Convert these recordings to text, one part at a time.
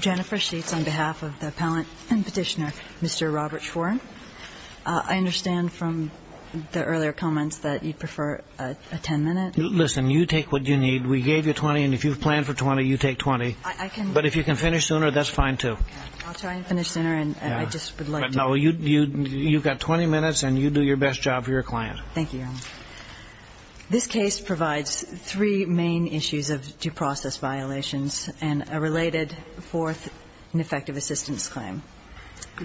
Jennifer Sheets on behalf of the Appellant and Petitioner, Mr. Robert Schwerin. I understand from the earlier comments that you'd prefer a ten-minute. Listen, you take what you need. We gave you twenty, and if you've planned for twenty, you take twenty. But if you can finish sooner, that's fine, too. I'll try and finish sooner, and I just would like to be brief. But, no, you've got twenty minutes, and you do your best job for your client. Thank you, Your Honor. This case provides three main issues of due process violations and a related fourth ineffective assistance claim.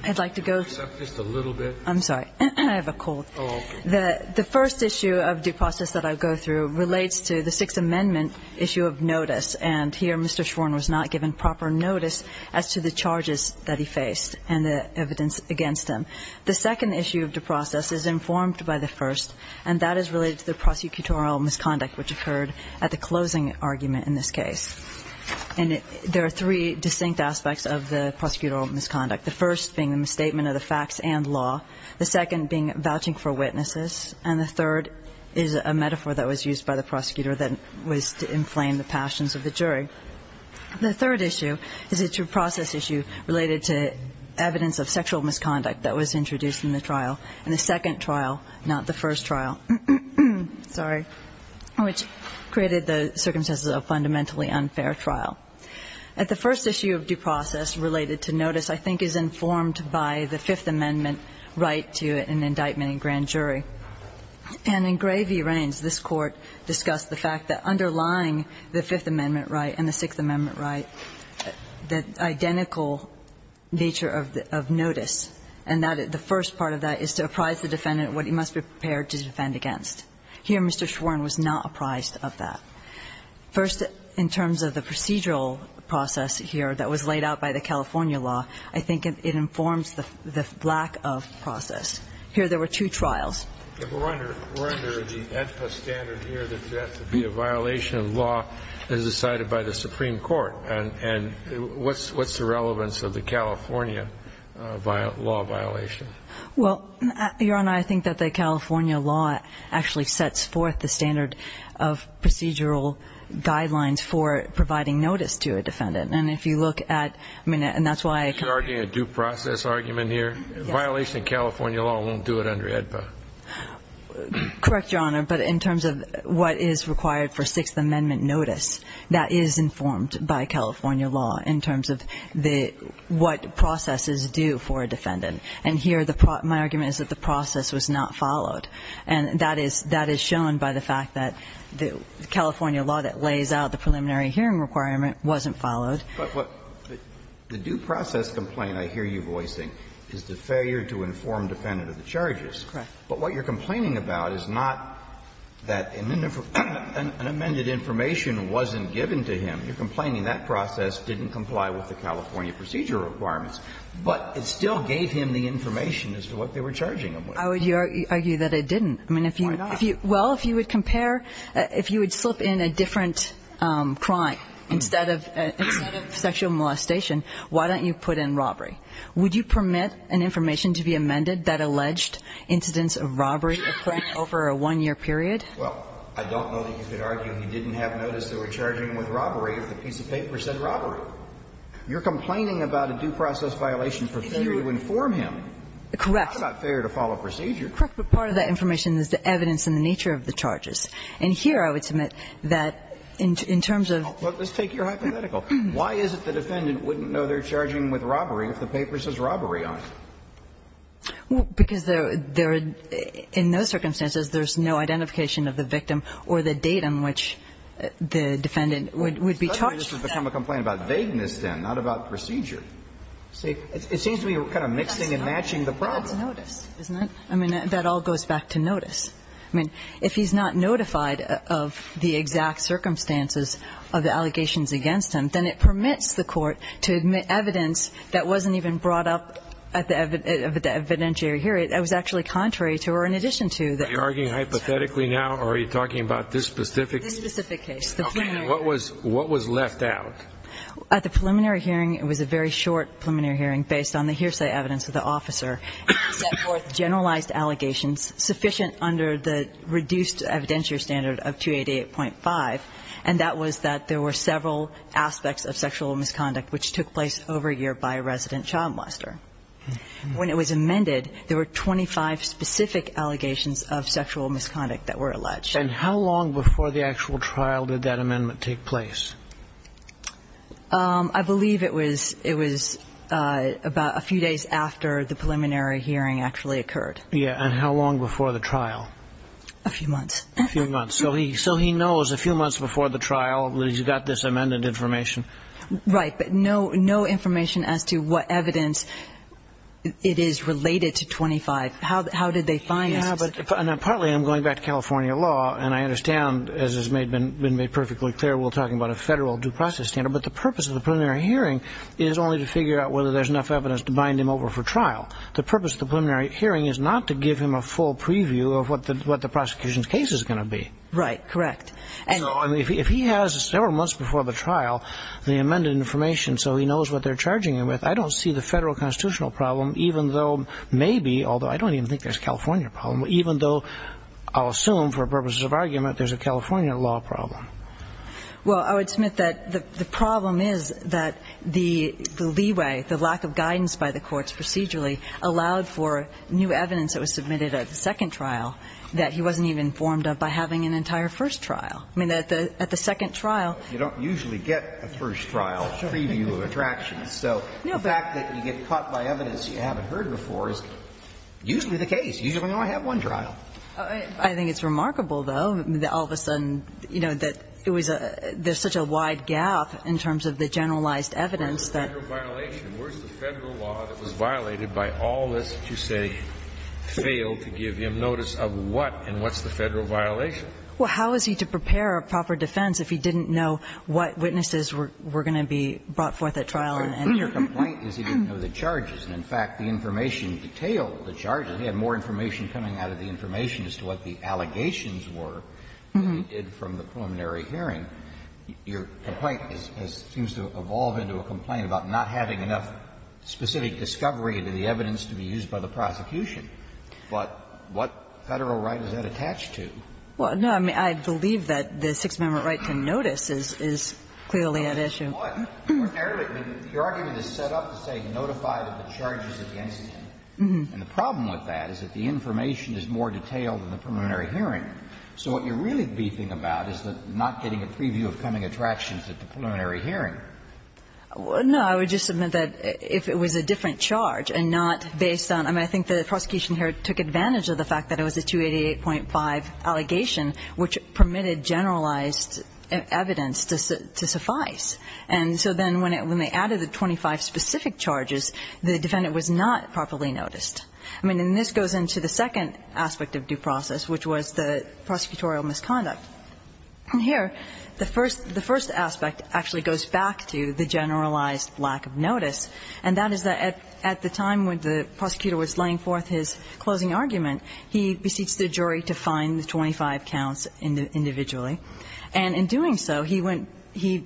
I'd like to go through. Just a little bit. I'm sorry. I have a cold. Oh, okay. The first issue of due process that I'll go through relates to the Sixth Amendment issue of notice. And here, Mr. Schwerin was not given proper notice as to the charges that he faced and the evidence against him. The second issue of due process is informed by the first, and that is related to the prosecutorial misconduct which occurred at the closing argument in this case. And there are three distinct aspects of the prosecutorial misconduct, the first being the misstatement of the facts and law, the second being vouching for witnesses, and the third is a metaphor that was used by the prosecutor that was to inflame the passions of the jury. The third issue is a due process issue related to evidence of sexual misconduct that was introduced in the trial, and the second trial, not the first trial, sorry, which created the circumstances of a fundamentally unfair trial. The first issue of due process related to notice, I think, is informed by the Fifth Amendment right to an indictment in grand jury. And in Gray v. Rains, this Court discussed the fact that underlying the Fifth Amendment right and the Sixth Amendment right, the identical nature of notice, and that the first part of that is to apprise the defendant what he must be prepared to defend against. Here, Mr. Schwerin was not apprised of that. First, in terms of the procedural process here that was laid out by the California law, I think it informs the lack of process. Here, there were two trials. We're under the ENPA standard here that there has to be a violation of law as decided by the Supreme Court. And what's the relevance of the California law violation? Well, Your Honor, I think that the California law actually sets forth the standard of procedural guidelines for providing notice to a defendant. And if you look at, I mean, and that's why- You're arguing a due process argument here? A violation of California law won't do it under ENPA. Correct, Your Honor. But in terms of what is required for Sixth Amendment notice, that is informed by California law in terms of what processes do for a defendant. And here, my argument is that the process was not followed. And that is shown by the fact that the California law that lays out the preliminary hearing requirement wasn't followed. But what the due process complaint I hear you voicing is the failure to inform a defendant of the charges. Correct. But what you're complaining about is not that an amended information wasn't given to him. You're complaining that process didn't comply with the California procedure requirements. But it still gave him the information as to what they were charging him with. I would argue that it didn't. I mean, if you- Why not? Well, if you would compare, if you would slip in a different crime instead of- Instead of sexual molestation, why don't you put in robbery? Would you permit an information to be amended that alleged incidents of robbery occurred over a one-year period? Well, I don't know that you could argue he didn't have notice they were charging him with robbery if the piece of paper said robbery. You're complaining about a due process violation for failure to inform him. Correct. It's not fair to follow procedure. Correct. But part of that information is the evidence and the nature of the charges. And here, I would submit that in terms of- Well, let's take your hypothetical. Why is it the defendant wouldn't know they're charging him with robbery if the paper says robbery on it? Because there are no circumstances there's no identification of the victim or the date on which the defendant would be charged. It doesn't become a complaint about vagueness, then, not about procedure. It seems to be kind of mixing and matching the problem. But that's notice, isn't it? I mean, that all goes back to notice. I mean, if he's not notified of the exact circumstances of the allegations against him, then it permits the court to admit evidence that wasn't even brought up at the evidentiary hearing that was actually contrary to or in addition to the- Are you arguing hypothetically now, or are you talking about this specific- This specific case, the preliminary- Okay. What was left out? At the preliminary hearing, it was a very short preliminary hearing based on the hearsay evidence of the officer. He set forth generalized allegations sufficient under the reduced evidentiary standard of 288.5, and that was that there were several aspects of sexual misconduct which took place over a year by a resident child molester. When it was amended, there were 25 specific allegations of sexual misconduct that were alleged. And how long before the actual trial did that amendment take place? I believe it was about a few days after the preliminary hearing actually occurred. Yeah. And how long before the trial? A few months. A few months. So he knows a few months before the trial that he's got this amended information. Right. But no information as to what evidence it is related to 25. How did they find this? Yeah. But partly I'm going back to California law, and I understand, as has been made perfectly clear, we're talking about a 15-year period. But the purpose of the preliminary hearing is only to figure out whether there's enough evidence to bind him over for trial. The purpose of the preliminary hearing is not to give him a full preview of what the prosecution's case is going to be. Right. Correct. So if he has several months before the trial the amended information so he knows what they're charging him with, I don't see the federal constitutional problem, even though maybe, although I don't even think there's a California problem, even though I'll assume, for purposes of argument, there's a California law problem. Well, I would submit that the problem is that the leeway, the lack of guidance by the courts procedurally allowed for new evidence that was submitted at the second trial that he wasn't even informed of by having an entire first trial. I mean, at the second trial you don't usually get a first trial preview of attractions. So the fact that you get caught by evidence you haven't heard before is usually the case. Usually you only have one trial. I think it's remarkable, though, that all of a sudden, you know, that it was a — there's such a wide gap in terms of the generalized evidence that — Where's the federal law that was violated by all this to, say, fail to give him notice of what and what's the federal violation? Well, how is he to prepare a proper defense if he didn't know what witnesses were going to be brought forth at trial and — Your complaint is he didn't know the charges. And, in fact, the information detailed the charges. He had more information coming out of the information as to what the allegations were than he did from the preliminary hearing. Your complaint seems to evolve into a complaint about not having enough specific discovery to the evidence to be used by the prosecution. But what Federal right is that attached to? Well, no, I mean, I believe that the Sixth Amendment right to notice is clearly at issue. And the problem with that is that the information is more detailed in the preliminary hearing. So what you're really beefing about is the not getting a preview of coming attractions at the preliminary hearing. No, I would just submit that if it was a different charge and not based on — I mean, I think the prosecution here took advantage of the fact that it was a 288.5 allegation, which permitted generalized evidence to suffice. And so then when they added the 25 specific charges, the defendant was not properly noticed. I mean, and this goes into the second aspect of due process, which was the prosecutorial misconduct. Here, the first aspect actually goes back to the generalized lack of notice, and that is that at the time when the prosecutor was laying forth his closing argument, he beseeched the jury to find the 25 counts individually. And in doing so, he went — he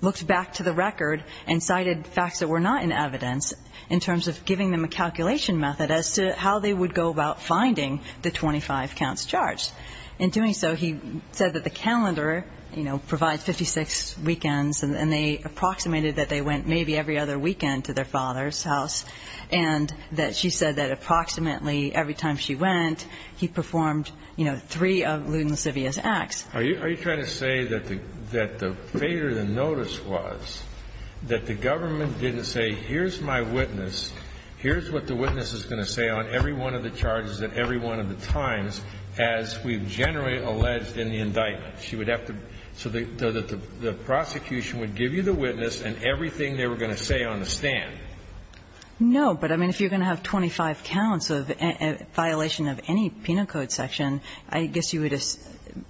looked back to the record and cited facts that were not in evidence in terms of giving them a calculation method as to how they would go about finding the 25 counts charged. In doing so, he said that the calendar, you know, provides 56 weekends, and they approximated that they went maybe every other weekend to their father's house, and that she said that approximately every time she went, he performed, you know, three of Luden Lascivia's acts. Are you trying to say that the failure of the notice was that the government didn't say, here's my witness, here's what the witness is going to say on every one of the charges at every one of the times as we've generally alleged in the indictment? So that the prosecution would give you the witness and everything they were going to say on the stand? No. But, I mean, if you're going to have 25 counts of violation of any penal code section, I guess you would at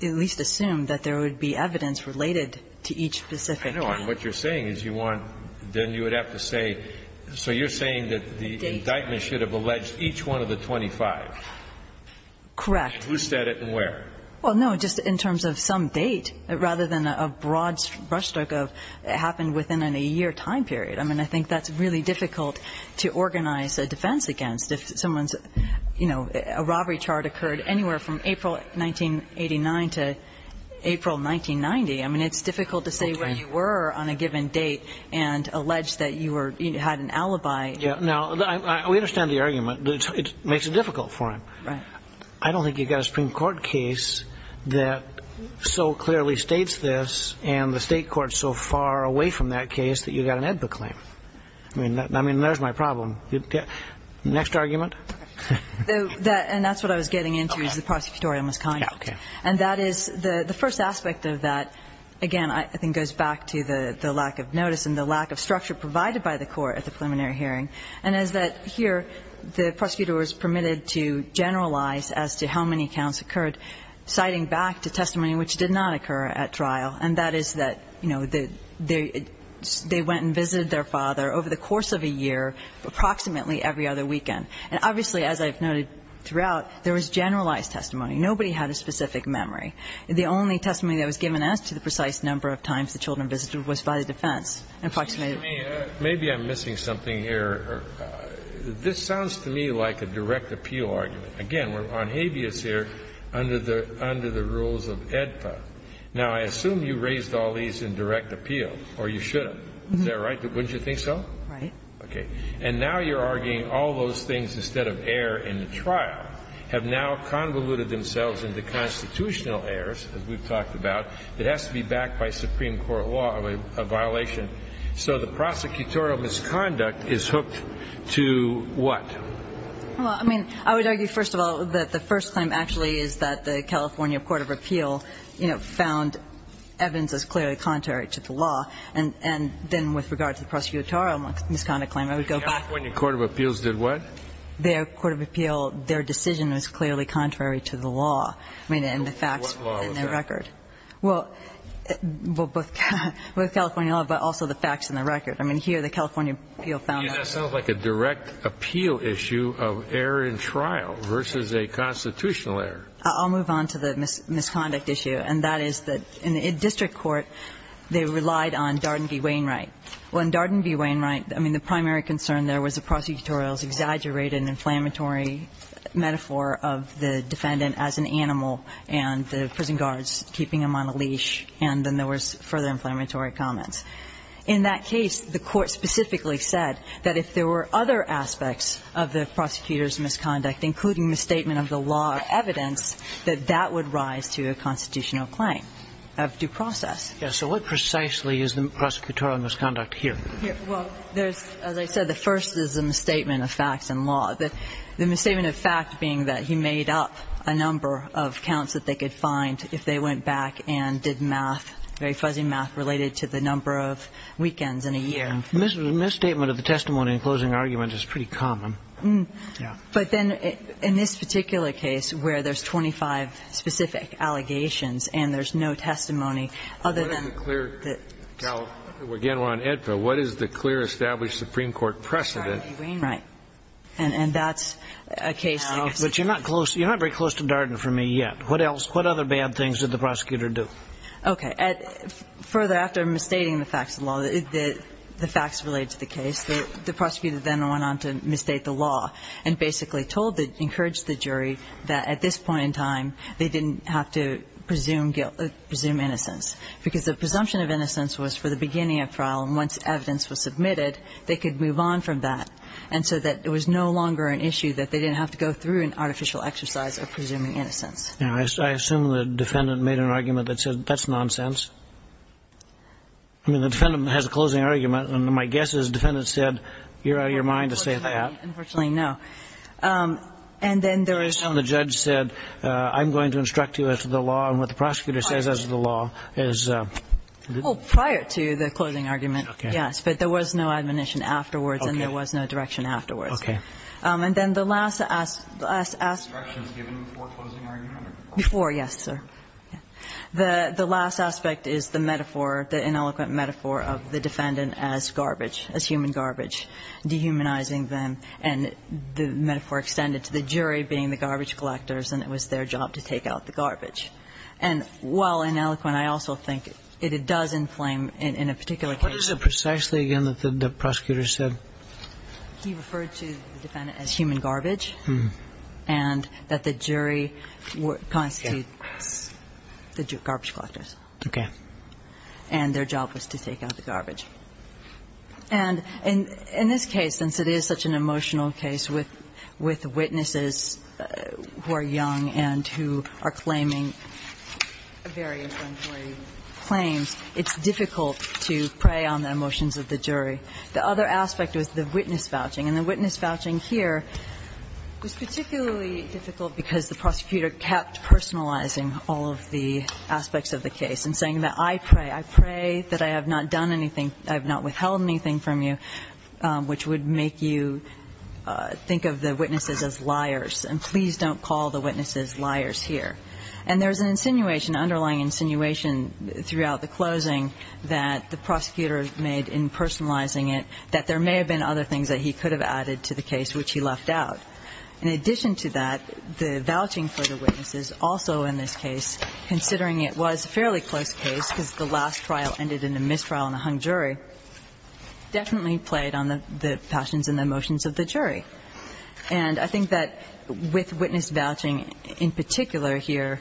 least assume that there would be evidence related to each specific count. I know. And what you're saying is you want, then you would have to say, so you're saying that the indictment should have alleged each one of the 25? Correct. Who said it and where? Well, no, just in terms of some date, rather than a broad brushstroke of it happened within a year time period. I mean, I think that's really difficult to organize a defense against. If someone's, you know, a robbery chart occurred anywhere from April 1989 to April 1990, I mean, it's difficult to say where you were on a given date and allege that you were, you had an alibi. Yeah. Now, we understand the argument. It makes it difficult for him. Right. I don't think you've got a Supreme Court case that so clearly states this and the state court's so far away from that case that you've got an AEDPA claim. I mean, there's my problem. Next argument. And that's what I was getting into, is the prosecutorial misconduct. And that is the first aspect of that, again, I think goes back to the lack of notice and the lack of structure provided by the court at the preliminary hearing, and is that here the prosecutor was permitted to generalize as to how many counts occurred, citing back to testimony which did not occur at trial, and that is that, you know, they went and visited their father over the course of a year, approximately every other weekend. And obviously, as I've noted throughout, there was generalized testimony. Nobody had a specific memory. The only testimony that was given as to the precise number of times the children visited was by the defense, an approximated number. Maybe I'm missing something here. This sounds to me like a direct appeal argument. Again, we're on habeas here under the rules of AEDPA. Now, I assume you raised all these in direct appeal, or you should have. Is that right? Wouldn't you think so? Right. Okay. And now you're arguing all those things instead of error in the trial have now convoluted themselves into constitutional errors, as we've talked about, that has to be backed by Supreme Court law of a violation. So the prosecutorial misconduct is hooked to what? Well, I mean, I would argue, first of all, that the first claim actually is that the evidence is clearly contrary to the law. And then with regard to the prosecutorial misconduct claim, I would go back to the first claim. The California Court of Appeals did what? The Court of Appeals, their decision was clearly contrary to the law. I mean, and the facts were in their record. What law was that? Well, both California law, but also the facts and the record. I mean, here the California appeal found that. That sounds like a direct appeal issue of error in trial versus a constitutional error. I'll move on to the misconduct issue. And that is that in the district court, they relied on Darden v. Wainwright. Well, in Darden v. Wainwright, I mean, the primary concern there was the prosecutorial's exaggerated inflammatory metaphor of the defendant as an animal and the prison guards keeping him on a leash, and then there was further inflammatory comments. In that case, the Court specifically said that if there were other aspects of the prosecutor's misconduct, including misstatement of the law of evidence, that that would rise to a constitutional claim of due process. Yes. So what precisely is the prosecutorial misconduct here? Well, there's, as I said, the first is a misstatement of facts and law. The misstatement of fact being that he made up a number of counts that they could find if they went back and did math, very fuzzy math, related to the number of weekends in a year. Misstatement of the testimony and closing argument is pretty common. But then in this particular case, where there's 25 specific allegations and there's no testimony other than the clear that... Well, again, we're on AEDPA, what is the clear established Supreme Court precedent? Darden v. Wainwright. Right. And that's a case that... But you're not close, you're not very close to Darden for me yet. What else, what other bad things did the prosecutor do? Okay. Further, after misstating the facts of the law, the facts related to the case, the facts related to the law, and basically told the, encouraged the jury that at this point in time, they didn't have to presume innocence. Because the presumption of innocence was for the beginning of trial, and once evidence was submitted, they could move on from that. And so that it was no longer an issue that they didn't have to go through an artificial exercise of presuming innocence. Now, I assume the defendant made an argument that said, that's nonsense. I mean, the defendant has a closing argument, and my guess is the defendant said, you're out of your mind to say that. Unfortunately, no. And then there was... And the judge said, I'm going to instruct you as to the law, and what the prosecutor says as to the law is... Well, prior to the closing argument, yes. But there was no admonition afterwards, and there was no direction afterwards. Okay. And then the last aspect... The last direction was given before closing argument. Before, yes, sir. The last aspect is the metaphor, the ineloquent metaphor of the defendant as garbage, as human garbage, dehumanizing them. And the metaphor extended to the jury being the garbage collectors, and it was their job to take out the garbage. And while ineloquent, I also think it does inflame in a particular case... What is it precisely, again, that the prosecutor said? He referred to the defendant as human garbage, and that the jury constitutes the garbage collectors. Okay. And their job was to take out the garbage. And in this case, since it is such an emotional case with witnesses who are young and who are claiming various unjury claims, it's difficult to prey on the emotions of the jury. The other aspect was the witness vouching. And the witness vouching here was particularly difficult because the prosecutor kept personalizing all of the aspects of the case and saying that, I pray, I pray that I have not done anything, I have not withheld anything from you, which would make you think of the witnesses as liars. And please don't call the witnesses liars here. And there's an insinuation, underlying insinuation throughout the closing that the prosecutor made in personalizing it that there may have been other things that he could have added to the case which he left out. In addition to that, the vouching for the witnesses also in this case, considering it was a fairly close case because the last trial ended in a mistrial and a hung jury, definitely played on the passions and the emotions of the jury. And I think that with witness vouching in particular here,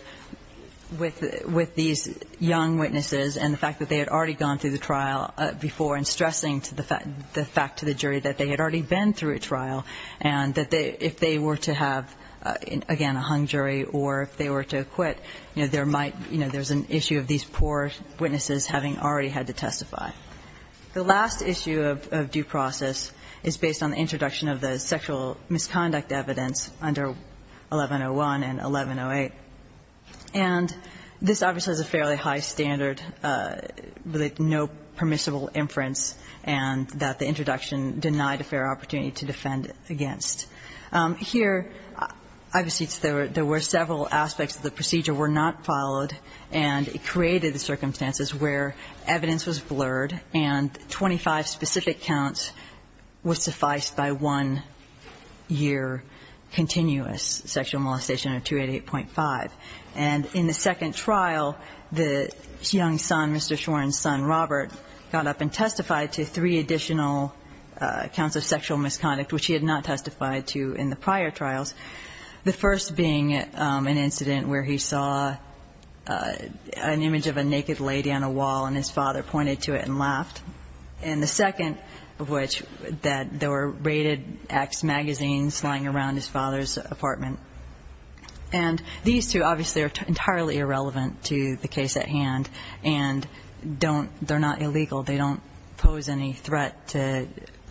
with these young witnesses and the fact that they had already gone through the trial before and stressing the fact to the jury that they had already been through a trial and that if they were to have, again, a hung jury or if they were to quit, you know, there might, you know, there's an issue of these poor witnesses having already had to testify. The last issue of due process is based on the introduction of the sexual misconduct evidence under 1101 and 1108. And this obviously has a fairly high standard with no permissible inference and that the introduction denied a fair opportunity to defend against. Here, obviously, there were several aspects of the procedure were not followed and it created the circumstances where evidence was blurred and 25 specific counts was sufficed by one year continuous sexual molestation of 288.5. And in the second trial, the young son, Mr. Shorin's son, Robert, got up and testified to three additional counts of sexual misconduct, which he had not testified to in the prior trials. The first being an incident where he saw an image of a naked lady on a wall and his father pointed to it and laughed. And the second of which that there were raided X magazines lying around his father's apartment. And these two obviously are entirely irrelevant to the case at hand and don't, they're not illegal. They don't pose any threat to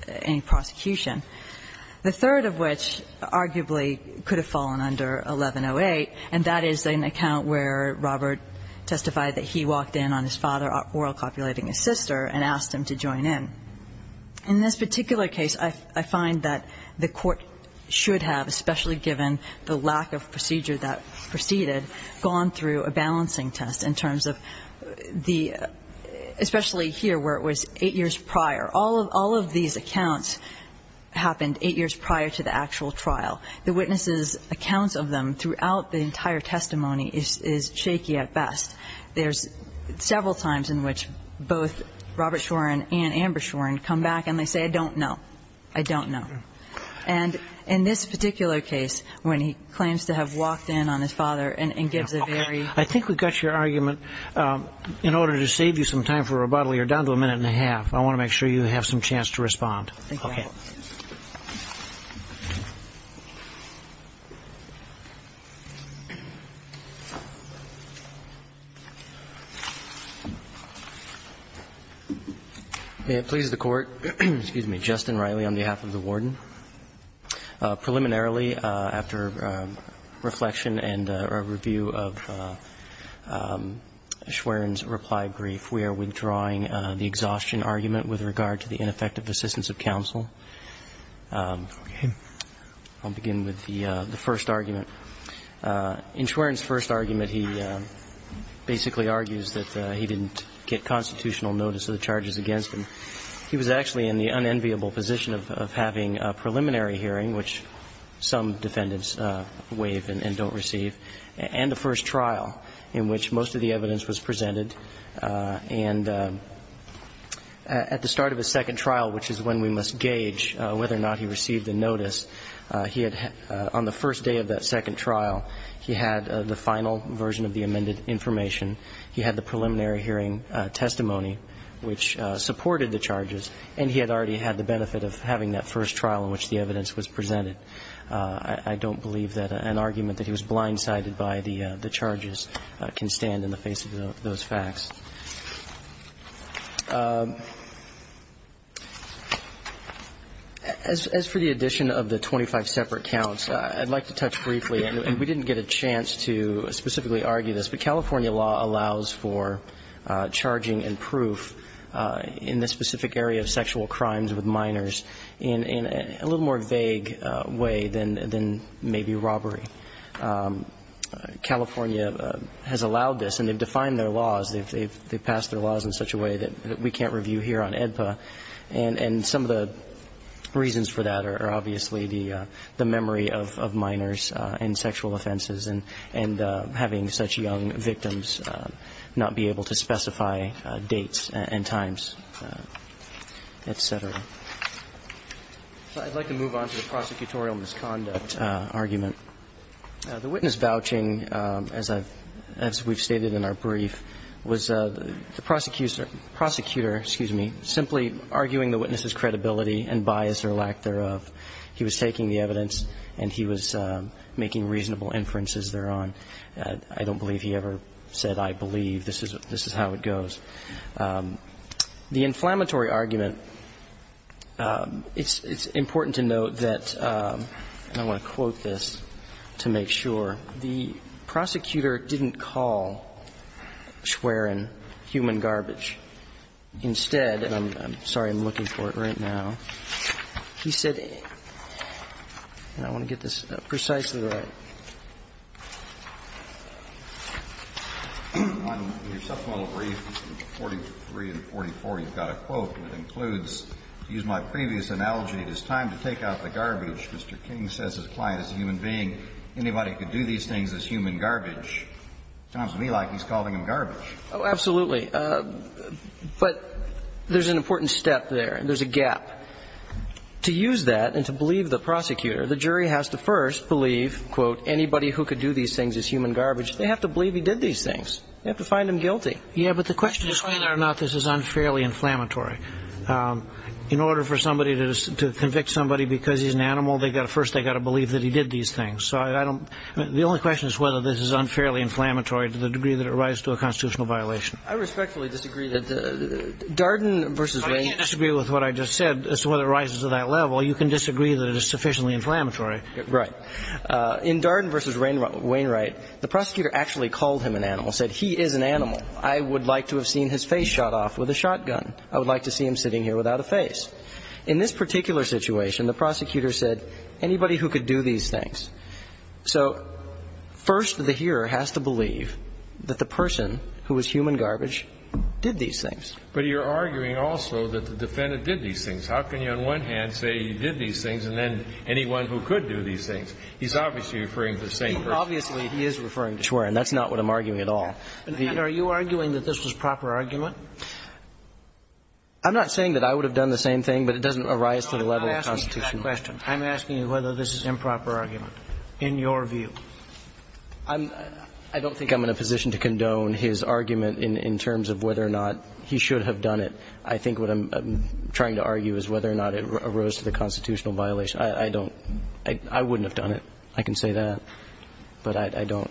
any prosecution. The third of which arguably could have fallen under 1108. And that is an account where Robert testified that he walked in on his father oral copulating his sister and asked him to join in. In this particular case, I find that the court should have, especially given the lack of procedure that proceeded, gone through a balancing test in terms of the, especially here where it was eight years prior. All of all of these accounts happened eight years prior to the actual trial. The witnesses accounts of them throughout the entire testimony is shaky at best. There's several times in which both Robert Shorin and Amber Shorin come back and they say, I don't know. I don't know. And in this particular case, when he claims to have walked in on his father and gives I think we've got your argument in order to save you some time for rebuttal. You're down to a minute and a half. I want to make sure you have some chance to respond. May it please the court, excuse me, Justin Riley on behalf of the warden. Preliminarily, after reflection and a review of Shorin's reply brief, we are withdrawing the exhaustion argument with regard to the ineffective assistance of counsel. I'll begin with the first argument. In Shorin's first argument, he basically argues that he didn't get constitutional notice of the charges against him. He was actually in the unenviable position of having a preliminary hearing, which some defendants waive and don't receive, and the first trial in which most of the evidence was presented. And at the start of a second trial, which is when we must gauge whether or not he received the notice, he had on the first day of that second trial, he had the final version of the amended information. He had the preliminary hearing testimony, which supported the charges, and he had already had the benefit of having that first trial in which the evidence was presented. I don't believe that an argument that he was blindsided by the charges can stand in the face of those facts. As for the addition of the 25 separate counts, I'd like to touch briefly, and we didn't get a chance to specifically argue this, but California law allows for charging and proof in this specific area of sexual crimes with minors in a little more vague way than maybe robbery. California has allowed this, and they've defined their laws. They've passed their laws in such a way that we can't review here on AEDPA, and some of the reasons for that are obviously the memory of minors and sexual offenses and having such young victims not be able to specify dates and times, et cetera. I'd like to move on to the prosecutorial misconduct argument. The witness vouching, as we've stated in our brief, was the prosecutor simply arguing the evidence was based on infallibility and bias or lack thereof. He was taking the evidence, and he was making reasonable inferences thereon. I don't believe he ever said, I believe. This is how it goes. The inflammatory argument, it's important to note that, and I want to quote this to make sure, the prosecutor didn't call Schwerin human garbage. Instead, and I'm sorry, I'm looking for it right now, he said, and I want to get this precisely right. On your subpoena brief 43 and 44, you've got a quote that includes, to use my previous analogy, it is time to take out the garbage. Mr. King says his client is a human being. Anybody who could do these things is human garbage. Sounds to me like he's calling him garbage. Oh, absolutely. But there's an important step there. There's a gap. To use that and to believe the prosecutor, the jury has to first believe, quote, anybody who could do these things is human garbage. They have to believe he did these things. They have to find him guilty. Yeah, but the question is whether or not this is unfairly inflammatory. In order for somebody to convict somebody because he's an animal, first they've got to believe that he did these things. So I don't, the only question is whether this is unfairly inflammatory to the degree that it rises to a constitutional violation. I respectfully disagree that Darden versus Wainwright. I disagree with what I just said as to whether it rises to that level. You can disagree that it is sufficiently inflammatory. Right. In Darden versus Wainwright, the prosecutor actually called him an animal, said he is an animal. I would like to have seen his face shot off with a shotgun. I would like to see him sitting here without a face. In this particular situation, the prosecutor said anybody who could do these things. So first, the hearer has to believe that the person who was human garbage did these things. But you're arguing also that the defendant did these things. How can you, on one hand, say he did these things, and then anyone who could do these things? He's obviously referring to the same person. Obviously, he is referring to Schwerin. That's not what I'm arguing at all. And are you arguing that this was proper argument? I'm not saying that I would have done the same thing, but it doesn't arise to the level of the Constitution. I'm not asking you that question. I'm asking you whether this is improper argument. In your view? I'm — I don't think I'm in a position to condone his argument in terms of whether or not he should have done it. I think what I'm trying to argue is whether or not it arose to the constitutional violation. I don't — I wouldn't have done it. I can say that. But I don't.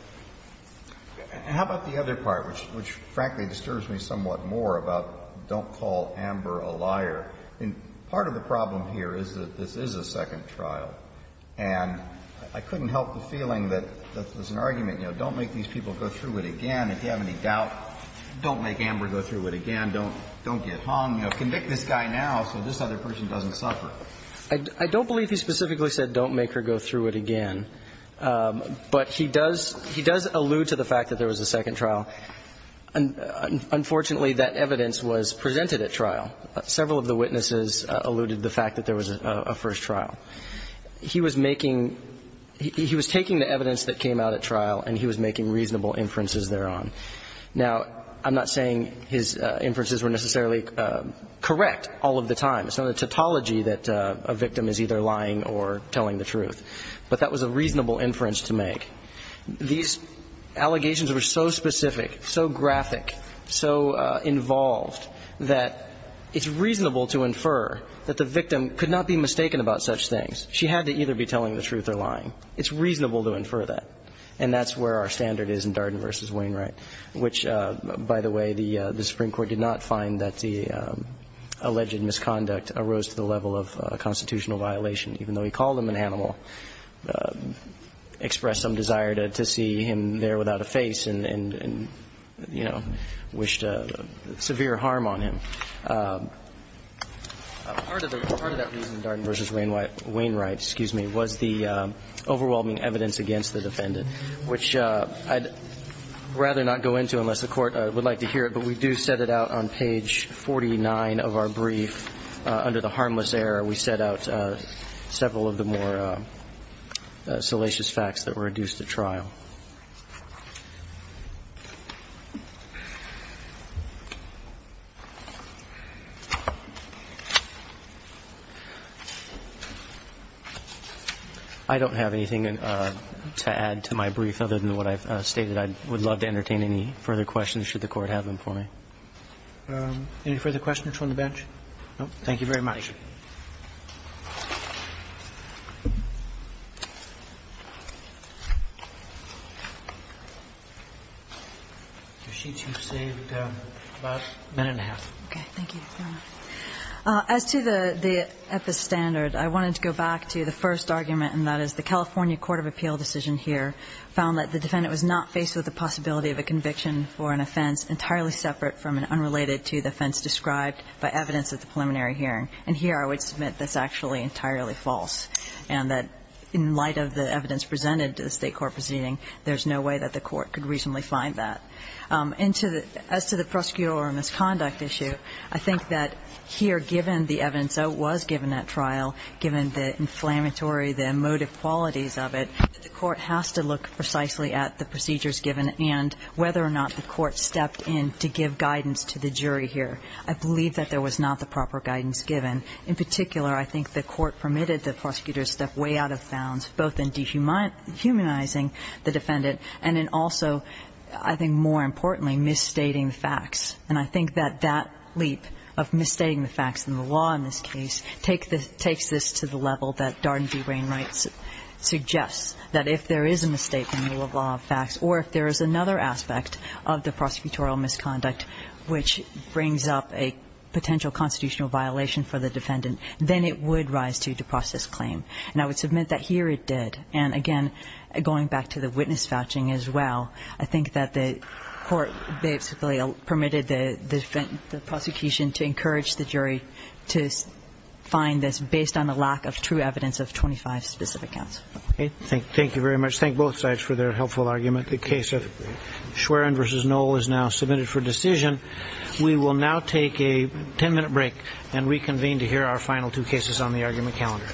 How about the other part, which frankly disturbs me somewhat more, about don't call Amber a liar? I mean, part of the problem here is that this is a second trial. And I couldn't help the feeling that there's an argument, you know, don't make these people go through it again. If you have any doubt, don't make Amber go through it again. Don't — don't get hung. You know, convict this guy now so this other person doesn't suffer. I don't believe he specifically said don't make her go through it again. But he does — he does allude to the fact that there was a second trial. Unfortunately, that evidence was presented at trial. Several of the witnesses alluded to the fact that there was a first trial. He was making — he was taking the evidence that came out at trial, and he was making reasonable inferences thereon. Now, I'm not saying his inferences were necessarily correct all of the time. It's not a tautology that a victim is either lying or telling the truth. But that was a reasonable inference to make. These allegations were so specific, so graphic, so involved, that it's reasonable to infer that the victim could not be mistaken about such things. She had to either be telling the truth or lying. It's reasonable to infer that. And that's where our standard is in Darden v. Wainwright, which, by the way, the Supreme Court did not find that the alleged misconduct arose to the level of constitutional violation, even though he called him an animal, expressed some desire to see him there without a face, and, you know, wished severe harm on him. Part of that reason, Darden v. Wainwright, excuse me, was the overwhelming evidence against the defendant, which I'd rather not go into unless the Court would like to hear it, but we do set it out on page 49 of our brief. Under the harmless error, we set out several of the more salacious facts that were adduced at trial. I don't have anything to add to my brief other than what I've stated. I would love to entertain any further questions, should the Court have them for me. Any further questions from the bench? No, thank you very much. Your sheets, you've saved about a minute and a half. Okay, thank you very much. As to the epistandard, I wanted to go back to the first argument, and that is the California court of appeal decision here found that the defendant was not faced with the possibility of a conviction for an offense entirely separate from and unrelated to the offense described by evidence at the preliminary hearing. And here I would submit that's actually entirely false, and that in light of the evidence presented to the State court proceeding, there's no way that the court could reasonably find that. And to the – as to the prosecutorial misconduct issue, I think that here, given the evidence that was given at trial, given the inflammatory, the emotive qualities of it, the Court has to look precisely at the procedures given and whether or not the court stepped in to give guidance to the jury here. I believe that there was not the proper guidance given. In particular, I think the Court permitted the prosecutor to step way out of bounds, both in dehumanizing the defendant and in also, I think more importantly, misstating the facts. And I think that that leap of misstating the facts in the law in this case takes this to the level that Darden v. Wainwright suggests, that if there is a misstatement in the rule of law of facts, or if there is another aspect of the prosecutorial misconduct which brings up a potential constitutional violation for the defendant, then it would rise to depossess claim. And I would submit that here it did. And again, going back to the witness fetching as well, I think that the court basically permitted the prosecution to encourage the jury to find this based on the lack of true evidence of 25 specific counts. Okay. Thank you very much. Let's thank both sides for their helpful argument. The case of Schwerin v. Knoll is now submitted for decision. We will now take a 10-minute break and reconvene to hear our final two cases on the argument calendar.